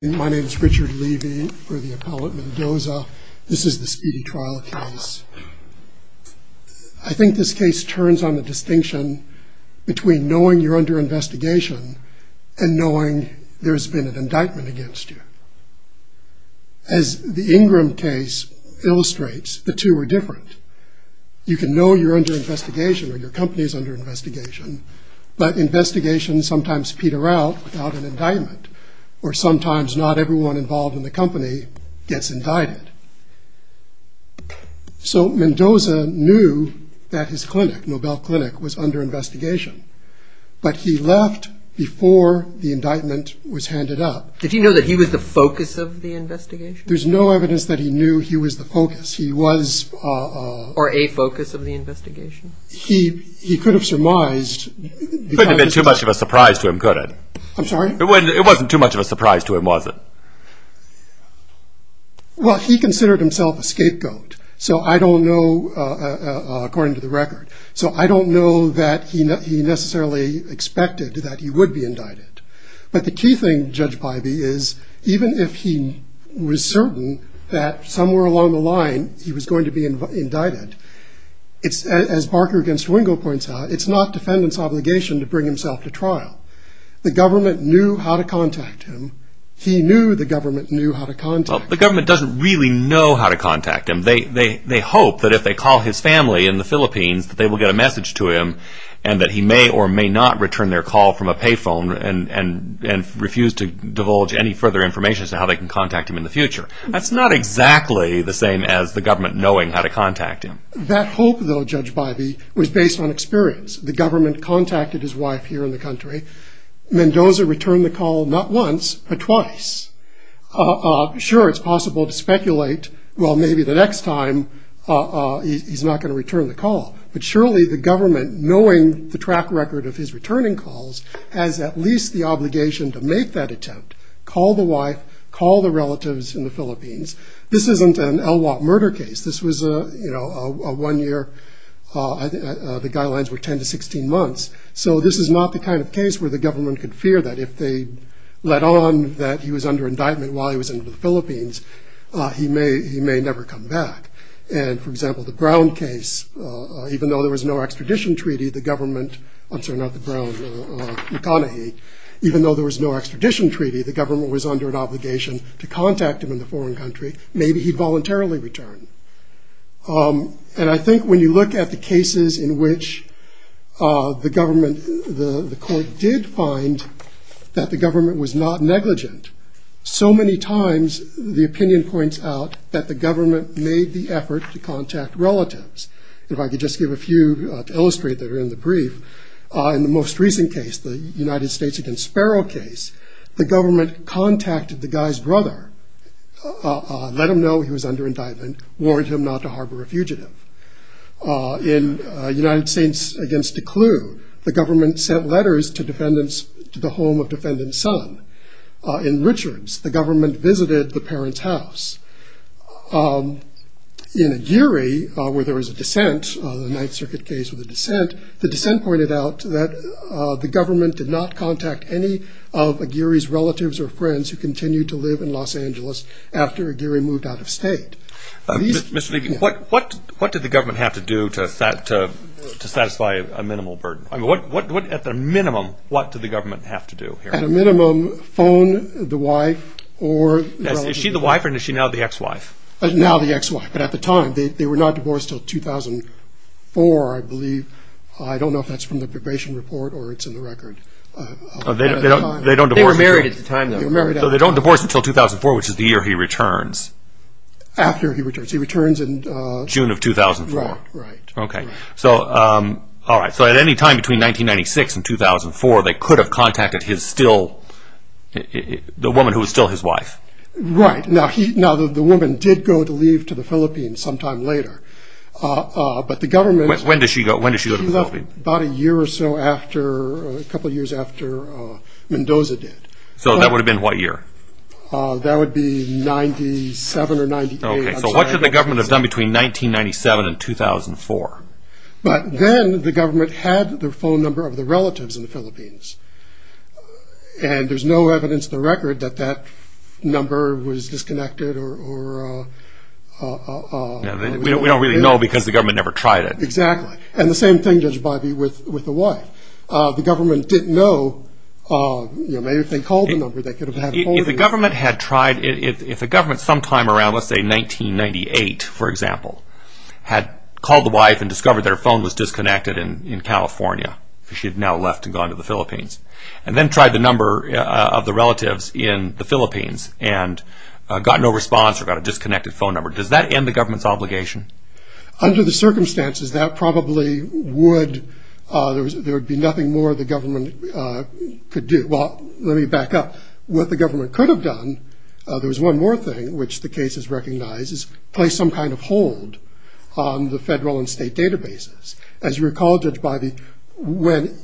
My name is Richard Levy for the appellate Mendoza. This is the speedy trial case. I think this case turns on the distinction between knowing you're under investigation and knowing there's been an indictment against you. As the Ingram case illustrates, the two are different. You can know you're under investigation or your company is under investigation, but investigations sometimes peter out without an indictment, or sometimes not everyone involved in the company gets indicted. So Mendoza knew that his clinic, Nobel Clinic, was under investigation, but he left before the indictment was handed up. Did he know that he was the focus of the investigation? There's no evidence that he knew he was the focus. He was... Or a focus of the investigation. He could have surmised... It couldn't have been too much of a surprise to him, could it? I'm sorry? It wasn't too much of a surprise to him, was it? Well, he considered himself a scapegoat, so I don't know, according to the record, so I don't know that he necessarily expected that he would be indicted. But the key thing, Judge Bybee, is even if he was certain that somewhere along the line he was going to be indicted, as Barker against Wingo points out, it's not defendant's obligation to bring himself to trial. The government knew how to contact him. He knew the government knew how to contact him. Well, the government doesn't really know how to contact him. They hope that if they call his family in the Philippines that they will get a message to him and that he may or may not return their call from a pay phone and refuse to divulge any further information as to how they can contact him in the future. That's not exactly the same as the government knowing how to contact him. That hope, though, Judge Bybee, was based on experience. The government contacted his wife here in the country. Mendoza returned the call not once but twice. Sure, it's possible to speculate, well, maybe the next time he's not going to return the call. But surely the government, knowing the track record of his returning calls, has at least the obligation to make that attempt, call the wife, call the relatives in the Philippines. This isn't an Elwha murder case. This was a one year, the guidelines were 10 to 16 months. So this is not the kind of case where the government could fear that if they let on that he was under indictment while he was in the Philippines, he may never come back. And, for example, the Brown case, even though there was no extradition treaty, the government, I'm sorry, not the Brown, McConaughey, even though there was no extradition treaty, the government was under an obligation to contact him in the foreign country. Maybe he voluntarily returned. And I think when you look at the cases in which the government, the court did find that the government was not negligent, so many times the opinion points out that the government made the effort to contact relatives. If I could just give a few to illustrate that are in the brief. In the most recent case, the United States against Sparrow case, the government contacted the guy's brother, let him know he was under indictment, warned him not to harbor a fugitive. In United States against Declu, the government sent letters to defendants, to the home of defendant's son. In Richards, the government visited the parent's house. In Aguirre, where there was a dissent, the Ninth Circuit case with a dissent, the dissent pointed out that the government did not contact any of Aguirre's relatives or friends who continued to live in Los Angeles after Aguirre moved out of state. Mr. Levy, what did the government have to do to satisfy a minimal burden? At the minimum, what did the government have to do? At a minimum, phone the wife or relatives. Is she the wife or is she now the ex-wife? Now the ex-wife. But at the time, they were not divorced until 2004, I believe. I don't know if that's from the probation report or it's in the record. They were married at the time, though. They were married at the time. So they don't divorce until 2004, which is the year he returns. After he returns. He returns in June of 2004. Right, right. So at any time between 1996 and 2004, they could have contacted the woman who was still his wife. Right. Now the woman did go to leave to the Philippines sometime later. When did she go to the Philippines? About a year or so after, a couple of years after Mendoza did. So that would have been what year? That would be 97 or 98. So what should the government have done between 1997 and 2004? But then the government had the phone number of the relatives in the Philippines. And there's no evidence in the record that that number was disconnected or... We don't really know because the government never tried it. Exactly. And the same thing, Judge Bivey, with the wife. The government didn't know. If the government had tried, if the government sometime around, let's say 1998, for example, had called the wife and discovered that her phone was disconnected in California, because she had now left and gone to the Philippines, and then tried the number of the relatives in the Philippines and got no response or got a disconnected phone number, does that end the government's obligation? Under the circumstances, that probably would... There would be nothing more the government could do. Well, let me back up. What the government could have done, there was one more thing which the case has recognized, is place some kind of hold on the federal and state databases. As you recall, Judge Bivey, when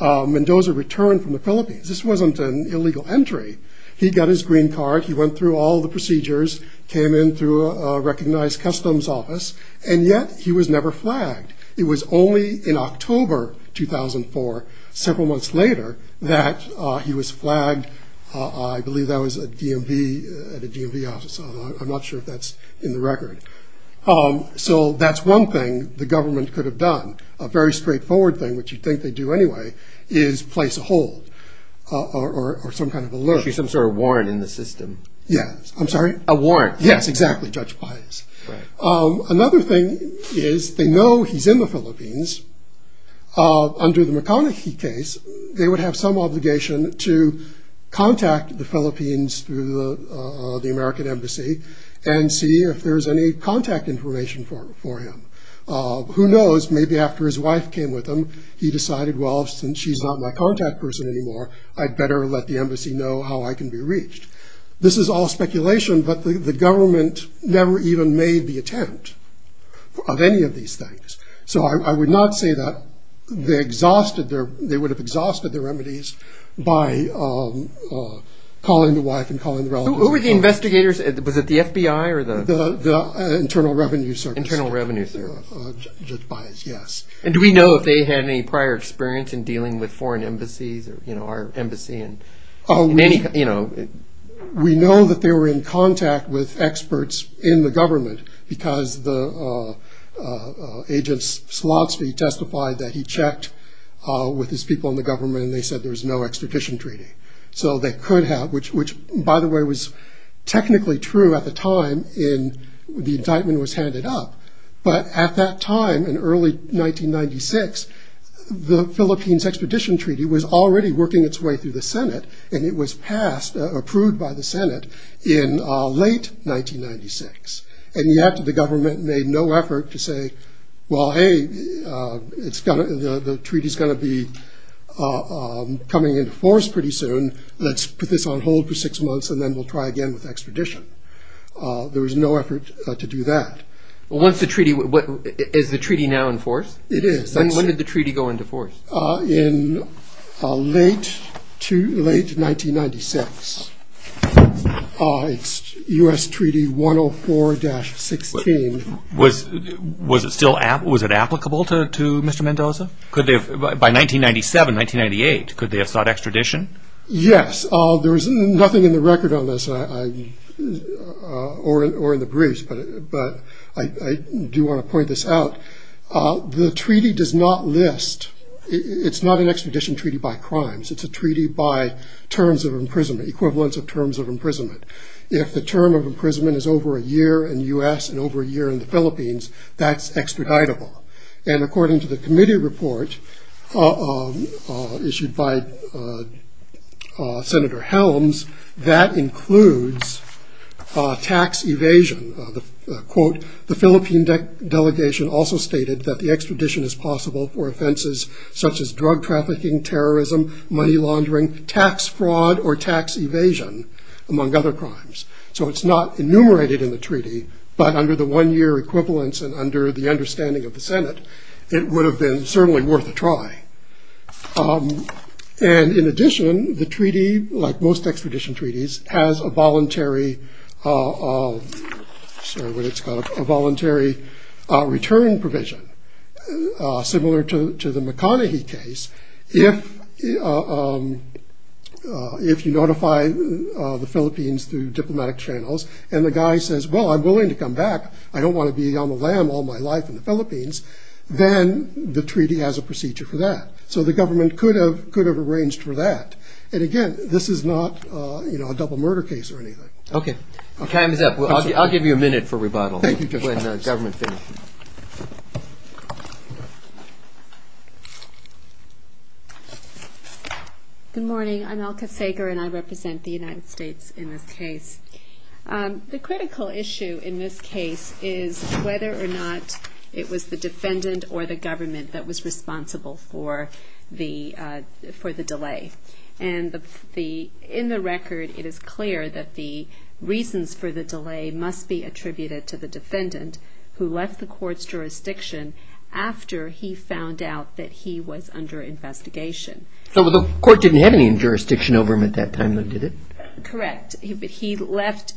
Mendoza returned from the Philippines, this wasn't an illegal entry. He got his green card. He went through all the procedures, came in through a recognized customs office, and yet he was never flagged. It was only in October 2004, several months later, that he was flagged. I believe that was at a DMV office. I'm not sure if that's in the record. So that's one thing the government could have done. A very straightforward thing, which you'd think they'd do anyway, is place a hold or some kind of alert. Actually, some sort of warrant in the system. Yes. I'm sorry? A warrant. Yes, exactly, Judge Bivey. Another thing is they know he's in the Philippines. Under the McConaghy case, they would have some obligation to contact the Philippines through the American embassy and see if there's any contact information for him. Who knows, maybe after his wife came with him, he decided, well, since she's not my contact person anymore, I'd better let the embassy know how I can be reached. This is all speculation, but the government never even made the attempt of any of these things. So I would not say that they would have exhausted their remedies by calling the wife and calling the relatives. Who were the investigators? Was it the FBI or the? The Internal Revenue Service. Internal Revenue Service. Judge Bivey, yes. And do we know if they had any prior experience in dealing with foreign embassies or our embassy in any? We know that they were in contact with experts in the government because the agent Slottsby testified that he checked with his people in the government and they said there was no extradition treaty. So they could have, which by the way was technically true at the time in the indictment was handed up, but at that time in early 1996, the Philippines extradition treaty was already working its way through the Senate and it was passed, approved by the Senate in late 1996. And yet the government made no effort to say, well, hey, the treaty is going to be coming into force pretty soon. Let's put this on hold for six months and then we'll try again with extradition. There was no effort to do that. Is the treaty now in force? Yes, it is. When did the treaty go into force? In late 1996. It's U.S. Treaty 104-16. Was it applicable to Mr. Mendoza? By 1997, 1998, could they have sought extradition? Yes. There is nothing in the record on this or in the briefs, but I do want to point this out. The treaty does not list, it's not an extradition treaty by crimes. It's a treaty by terms of imprisonment, equivalence of terms of imprisonment. If the term of imprisonment is over a year in the U.S. and over a year in the Philippines, that's extraditable. And according to the committee report issued by Senator Helms, that includes tax evasion. The Philippine delegation also stated that the extradition is possible for offenses such as drug trafficking, terrorism, money laundering, tax fraud, or tax evasion, among other crimes. So it's not enumerated in the treaty, but under the one-year equivalence and under the understanding of the Senate, it would have been certainly worth a try. And in addition, the treaty, like most extradition treaties, has a voluntary return provision, similar to the McConaughey case. If you notify the Philippines through diplomatic channels, and the guy says, well, I'm willing to come back, I don't want to be on the lam all my life in the Philippines, then the treaty has a procedure for that. So the government could have arranged for that. And again, this is not a double murder case or anything. Okay. Time is up. I'll give you a minute for rebuttal. Thank you, Judge Helms. Good morning. I'm Elka Sager, and I represent the United States in this case. The critical issue in this case is whether or not it was the defendant or the government that was responsible for the delay. And in the record, it is clear that the reasons for the delay must be attributed to the defendant, who left the court's jurisdiction after he found out that he was under investigation. So the court didn't have any jurisdiction over him at that time, did it? Correct. He left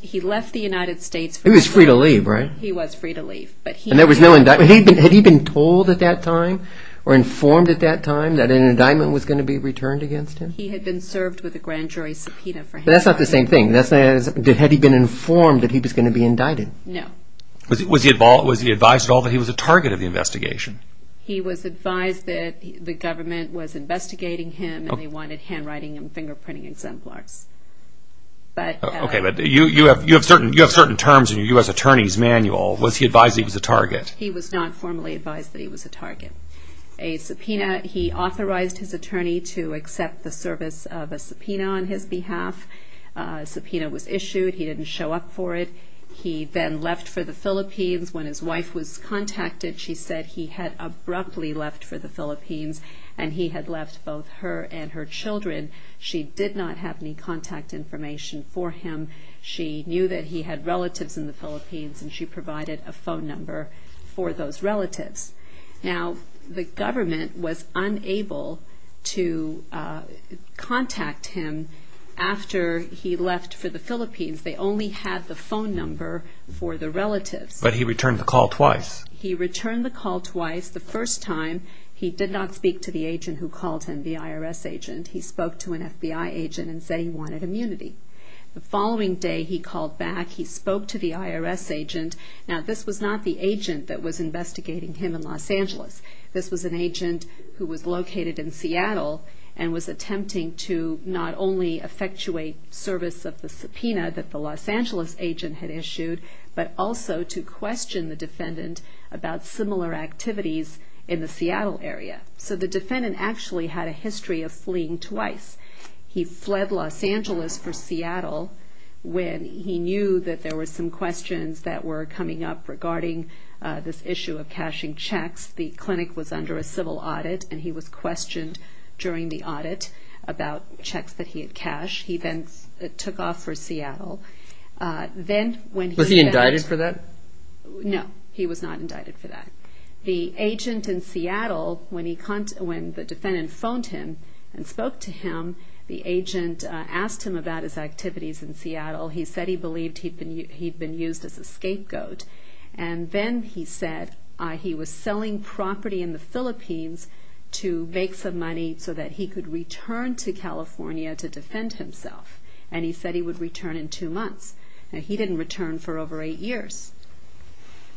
the United States. He was free to leave, right? He was free to leave. And there was no indictment? Had he been told at that time or informed at that time that an indictment was going to be returned against him? He had been served with a grand jury subpoena for him. But that's not the same thing. Had he been informed that he was going to be indicted? No. Was he advised at all that he was a target of the investigation? He was advised that the government was investigating him, and they wanted handwriting and fingerprinting exemplars. Okay, but you have certain terms in your U.S. Attorney's Manual. Was he advised that he was a target? He was not formally advised that he was a target. He authorized his attorney to accept the service of a subpoena on his behalf. A subpoena was issued. He didn't show up for it. He then left for the Philippines. And he had left both her and her children. She did not have any contact information for him. She knew that he had relatives in the Philippines, and she provided a phone number for those relatives. Now, the government was unable to contact him after he left for the Philippines. They only had the phone number for the relatives. But he returned the call twice. He returned the call twice. The first time, he did not speak to the agent who called him, the IRS agent. He spoke to an FBI agent and said he wanted immunity. The following day, he called back. He spoke to the IRS agent. Now, this was not the agent that was investigating him in Los Angeles. This was an agent who was located in Seattle and was attempting to not only effectuate service of the subpoena that the Los Angeles agent had issued, but also to question the defendant about similar activities in the Seattle area. So the defendant actually had a history of fleeing twice. He fled Los Angeles for Seattle when he knew that there were some questions that were coming up regarding this issue of cashing checks. The clinic was under a civil audit, and he was questioned during the audit about checks that he had cashed. He then took off for Seattle. Was he indicted for that? No, he was not indicted for that. The agent in Seattle, when the defendant phoned him and spoke to him, the agent asked him about his activities in Seattle. He said he believed he'd been used as a scapegoat. And then he said he was selling property in the Philippines to make some money so that he could return to California to defend himself. And he said he would return in two months. Now, he didn't return for over eight years.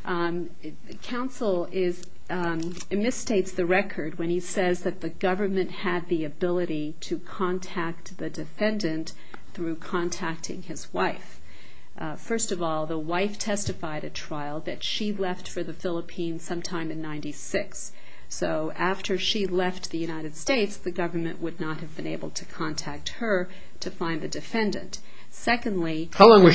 Counsel misstates the record when he says that the government had the ability to contact the defendant through contacting his wife. First of all, the wife testified at trial that she left for the Philippines sometime in 1996. So after she left the United States, the government would not have been able to contact her to find the defendant. Secondly... How long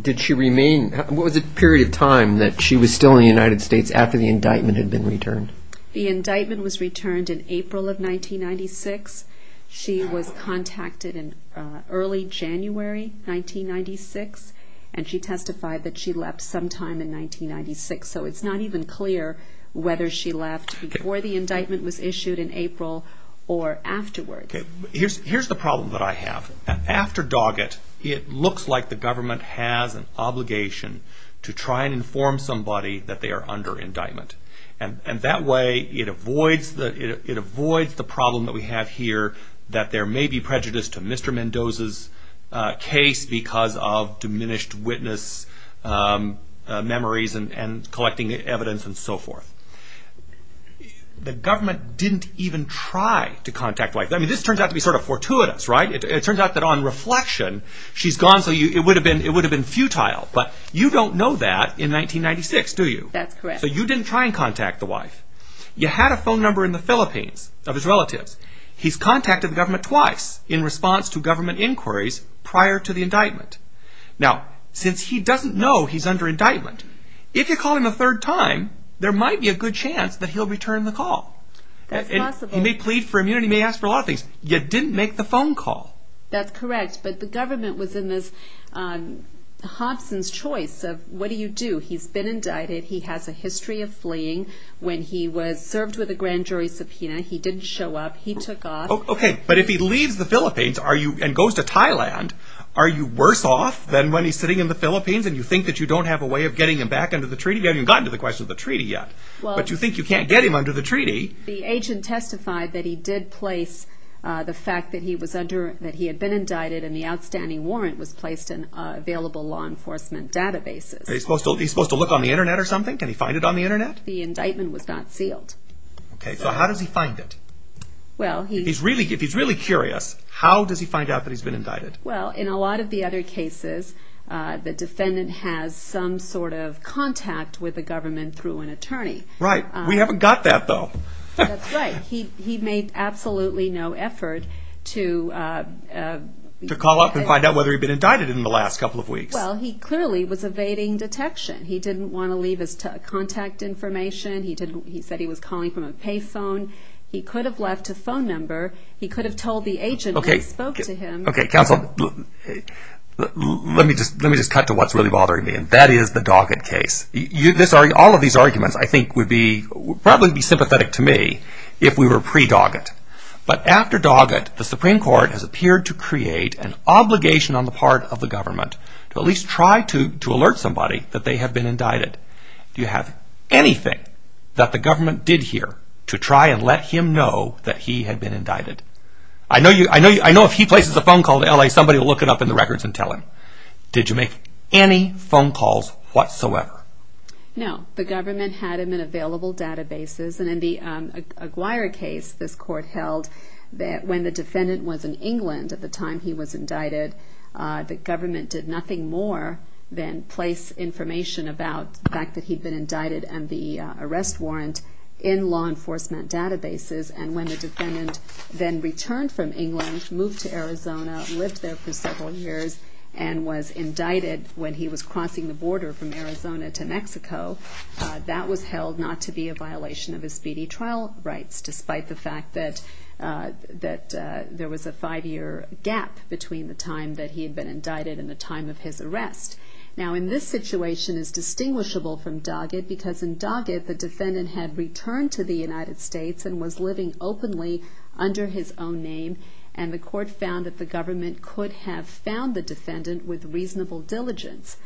did she remain? What was the period of time that she was still in the United States after the indictment had been returned? The indictment was returned in April of 1996. She was contacted in early January 1996, and she testified that she left sometime in 1996. So it's not even clear whether she left before the indictment was issued in April or afterward. Here's the problem that I have. After Doggett, it looks like the government has an obligation to try and inform somebody that they are under indictment. And that way, it avoids the problem that we have here that there may be prejudice to Mr. Mendoza's case because of diminished witness memories and collecting evidence and so forth. The government didn't even try to contact... This turns out to be sort of fortuitous, right? It turns out that on reflection, she's gone, so it would have been futile. But you don't know that in 1996, do you? That's correct. So you didn't try and contact the wife. You had a phone number in the Philippines of his relatives. He's contacted the government twice in response to government inquiries prior to the indictment. Now, since he doesn't know he's under indictment, if you call him a third time, there might be a good chance that he'll return the call. That's possible. He may plead for immunity. He may ask for a lot of things. You didn't make the phone call. That's correct, but the government was in this... Hobson's choice of, what do you do? He's been indicted. He has a history of fleeing. When he was served with a grand jury subpoena, he didn't show up. He took off. Okay, but if he leaves the Philippines and goes to Thailand, are you worse off than when he's sitting in the Philippines and you think that you don't have a way of getting him back under the treaty? You haven't even gotten to the question of the treaty yet. But you think you can't get him under the treaty. The agent testified that he did place the fact that he had been indicted and the outstanding warrant was placed in available law enforcement databases. Is he supposed to look on the Internet or something? Can he find it on the Internet? The indictment was not sealed. Okay, so how does he find it? Well, he... If he's really curious, how does he find out that he's been indicted? the defendant has some sort of contact with the government through an attorney. Right. We haven't got that, though. That's right. He made absolutely no effort to... To call up and find out whether he'd been indicted in the last couple of weeks. Well, he clearly was evading detection. He didn't want to leave his contact information. He said he was calling from a pay phone. He could have left a phone number. He could have told the agent when he spoke to him. Okay, counsel, let me just cut to what's really bothering me, and that is the Doggett case. All of these arguments, I think, would probably be sympathetic to me if we were pre-Doggett. But after Doggett, the Supreme Court has appeared to create an obligation on the part of the government to at least try to alert somebody that they have been indicted. Do you have anything that the government did here to try and let him know that he had been indicted? I know if he places a phone call to L.A., somebody will look it up in the records and tell him. Did you make any phone calls whatsoever? No. The government had him in available databases, and in the Aguirre case this court held that when the defendant was in England at the time he was indicted, the government did nothing more than place information about the fact that he had been indicted and the arrest warrant in law enforcement databases. And when the defendant then returned from England, moved to Arizona, lived there for several years, and was indicted when he was crossing the border from Arizona to Mexico, that was held not to be a violation of his speedy trial rights, despite the fact that there was a five-year gap between the time that he had been indicted and the time of his arrest. Now, in this situation, it's distinguishable from Doggett because in Doggett, the defendant had returned to the United States and was living openly under his own name, and the court found that the government could have found the defendant with reasonable diligence.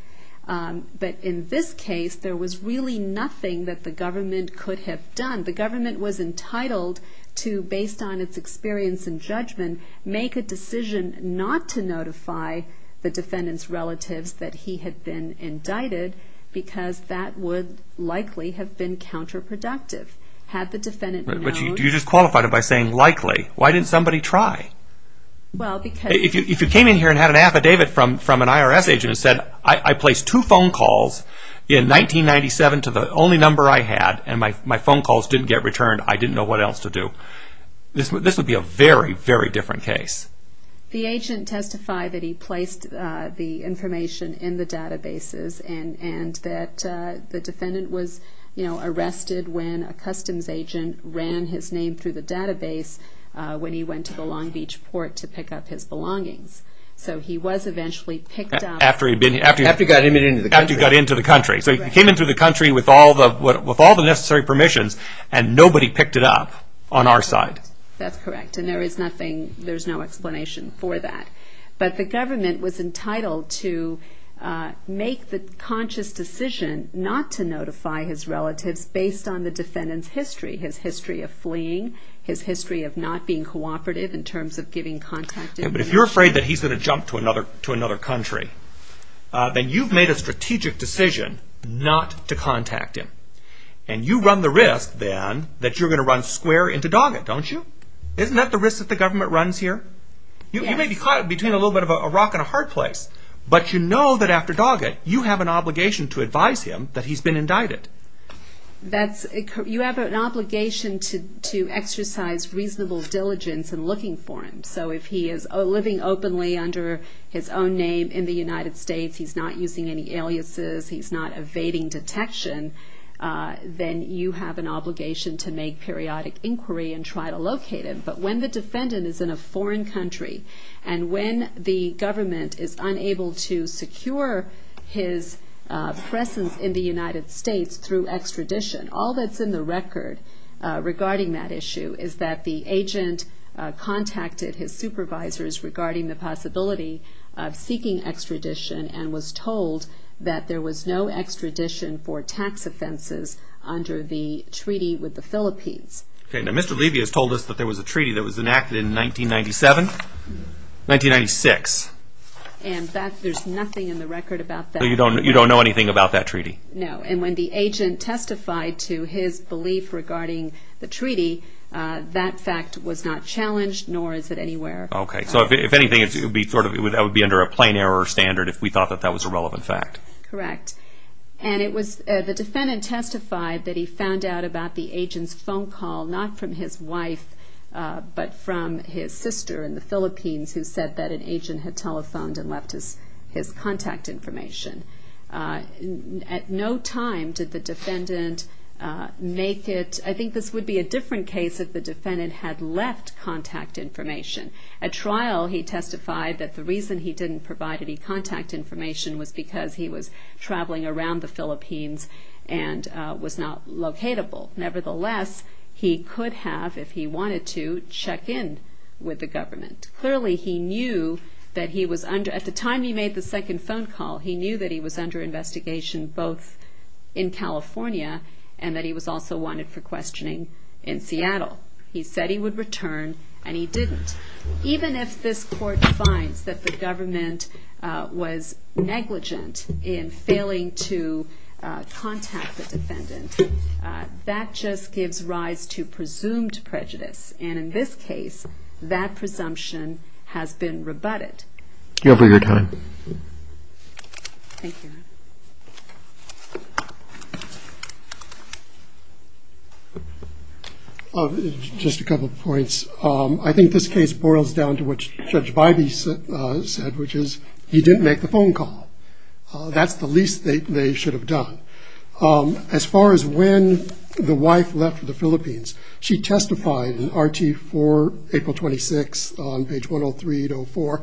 But in this case, there was really nothing that the government could have done. The government was entitled to, based on its experience and judgment, make a decision not to notify the defendant's relatives that he had been indicted because that would likely have been counterproductive. Had the defendant known... But you just qualified it by saying likely. Why didn't somebody try? If you came in here and had an affidavit from an IRS agent and said, I placed two phone calls in 1997 to the only number I had, and my phone calls didn't get returned, I didn't know what else to do, this would be a very, very different case. The agent testified that he placed the information in the databases and that the defendant was arrested when a customs agent ran his name through the database when he went to the Long Beach port to pick up his belongings. So he was eventually picked up... After he got into the country. After he got into the country. So he came into the country with all the necessary permissions and nobody picked it up on our side. That's correct. And there is no explanation for that. But the government was entitled to make the conscious decision not to notify his relatives based on the defendant's history, his history of fleeing, his history of not being cooperative in terms of giving contact information. But if you're afraid that he's going to jump to another country, then you've made a strategic decision not to contact him. And you run the risk then that you're going to run square into Doggett, don't you? Isn't that the risk that the government runs here? Yes. You may be caught between a little bit of a rock and a hard place, but you know that after Doggett, you have an obligation to advise him that he's been indicted. That's... You have an obligation to exercise reasonable diligence in looking for him. So if he is living openly under his own name in the United States, he's not using any aliases, he's not evading detection, then you have an obligation to make periodic inquiry and try to locate him. But when the defendant is in a foreign country, and when the government is unable to secure his presence in the United States through extradition, all that's in the record regarding that issue is that the agent contacted his supervisors regarding the possibility of seeking extradition and was told that there was no extradition for tax offenses under the treaty with the Philippines. Okay. Now, Mr. Levy has told us that there was a treaty that was enacted in 1997? 1996. And that... You don't know anything about that treaty? No. And when the agent testified to his belief regarding the treaty, that fact was not challenged, nor is it anywhere... Okay. So if anything, that would be under a plain error standard if we thought that that was a relevant fact. Correct. And it was... The defendant testified that he found out about the agent's phone call not from his wife, but from his sister in the Philippines who said that an agent had telephoned and left his contact information. At no time did the defendant make it... I think this would be a different case if the defendant had left contact information. At trial, he testified that the reason he didn't provide any contact information was because he was traveling around the Philippines and was not locatable. Nevertheless, he could have, if he wanted to, check in with the government. Clearly, he knew that he was under... At the time he made the second phone call, he knew that he was under investigation both in California and that he was also wanted for questioning in Seattle. He said he would return, and he didn't. Even if this court finds that the government was negligent in failing to contact the defendant, that just gives rise to presumed prejudice. And in this case, that presumption has been rebutted. You have all your time. Thank you. Just a couple of points. I think this case boils down to what Judge Bybee said, which is he didn't make the phone call. That's the least they should have done. As far as when the wife left for the Philippines, she testified in RT for April 26 on page 103-04.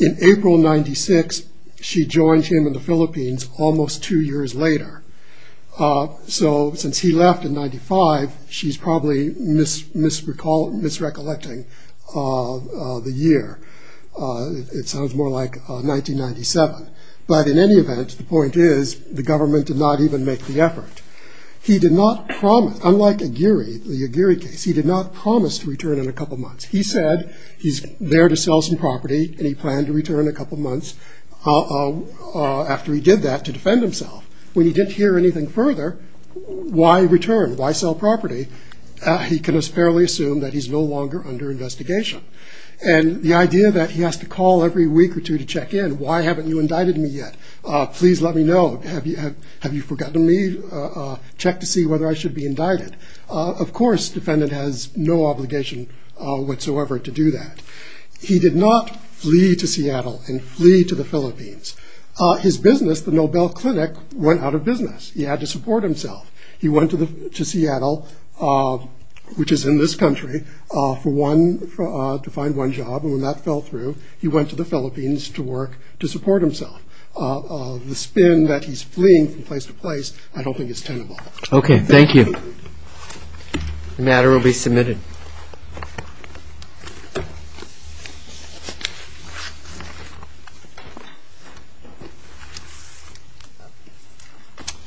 In April 96, she joined him in the Philippines almost two years later. So since he left in 95, she's probably misrecollecting the year. It sounds more like 1997. But in any event, the point is the government did not even make the effort. He did not promise, unlike Aguirre, the Aguirre case, he did not promise to return in a couple months. He said he's there to sell some property and he planned to return in a couple months after he did that to defend himself. When he didn't hear anything further, why return? Why sell property? He can just fairly assume that he's no longer under investigation. And the idea that he has to call every week or two to check in, why haven't you indicted me yet? Please let me know. Have you forgotten me? Check to see whether I should be indicted. Of course, the defendant has no obligation whatsoever to do that. He did not flee to Seattle and flee to the Philippines. His business, the Nobel Clinic, went out of business. He had to support himself. He went to Seattle, which is in this country, to find one job, and when that fell through, he went to the Philippines to work to support himself. The spin that he's fleeing from place to place, I don't think is tenable. Okay, thank you. The matter will be submitted. Thank you.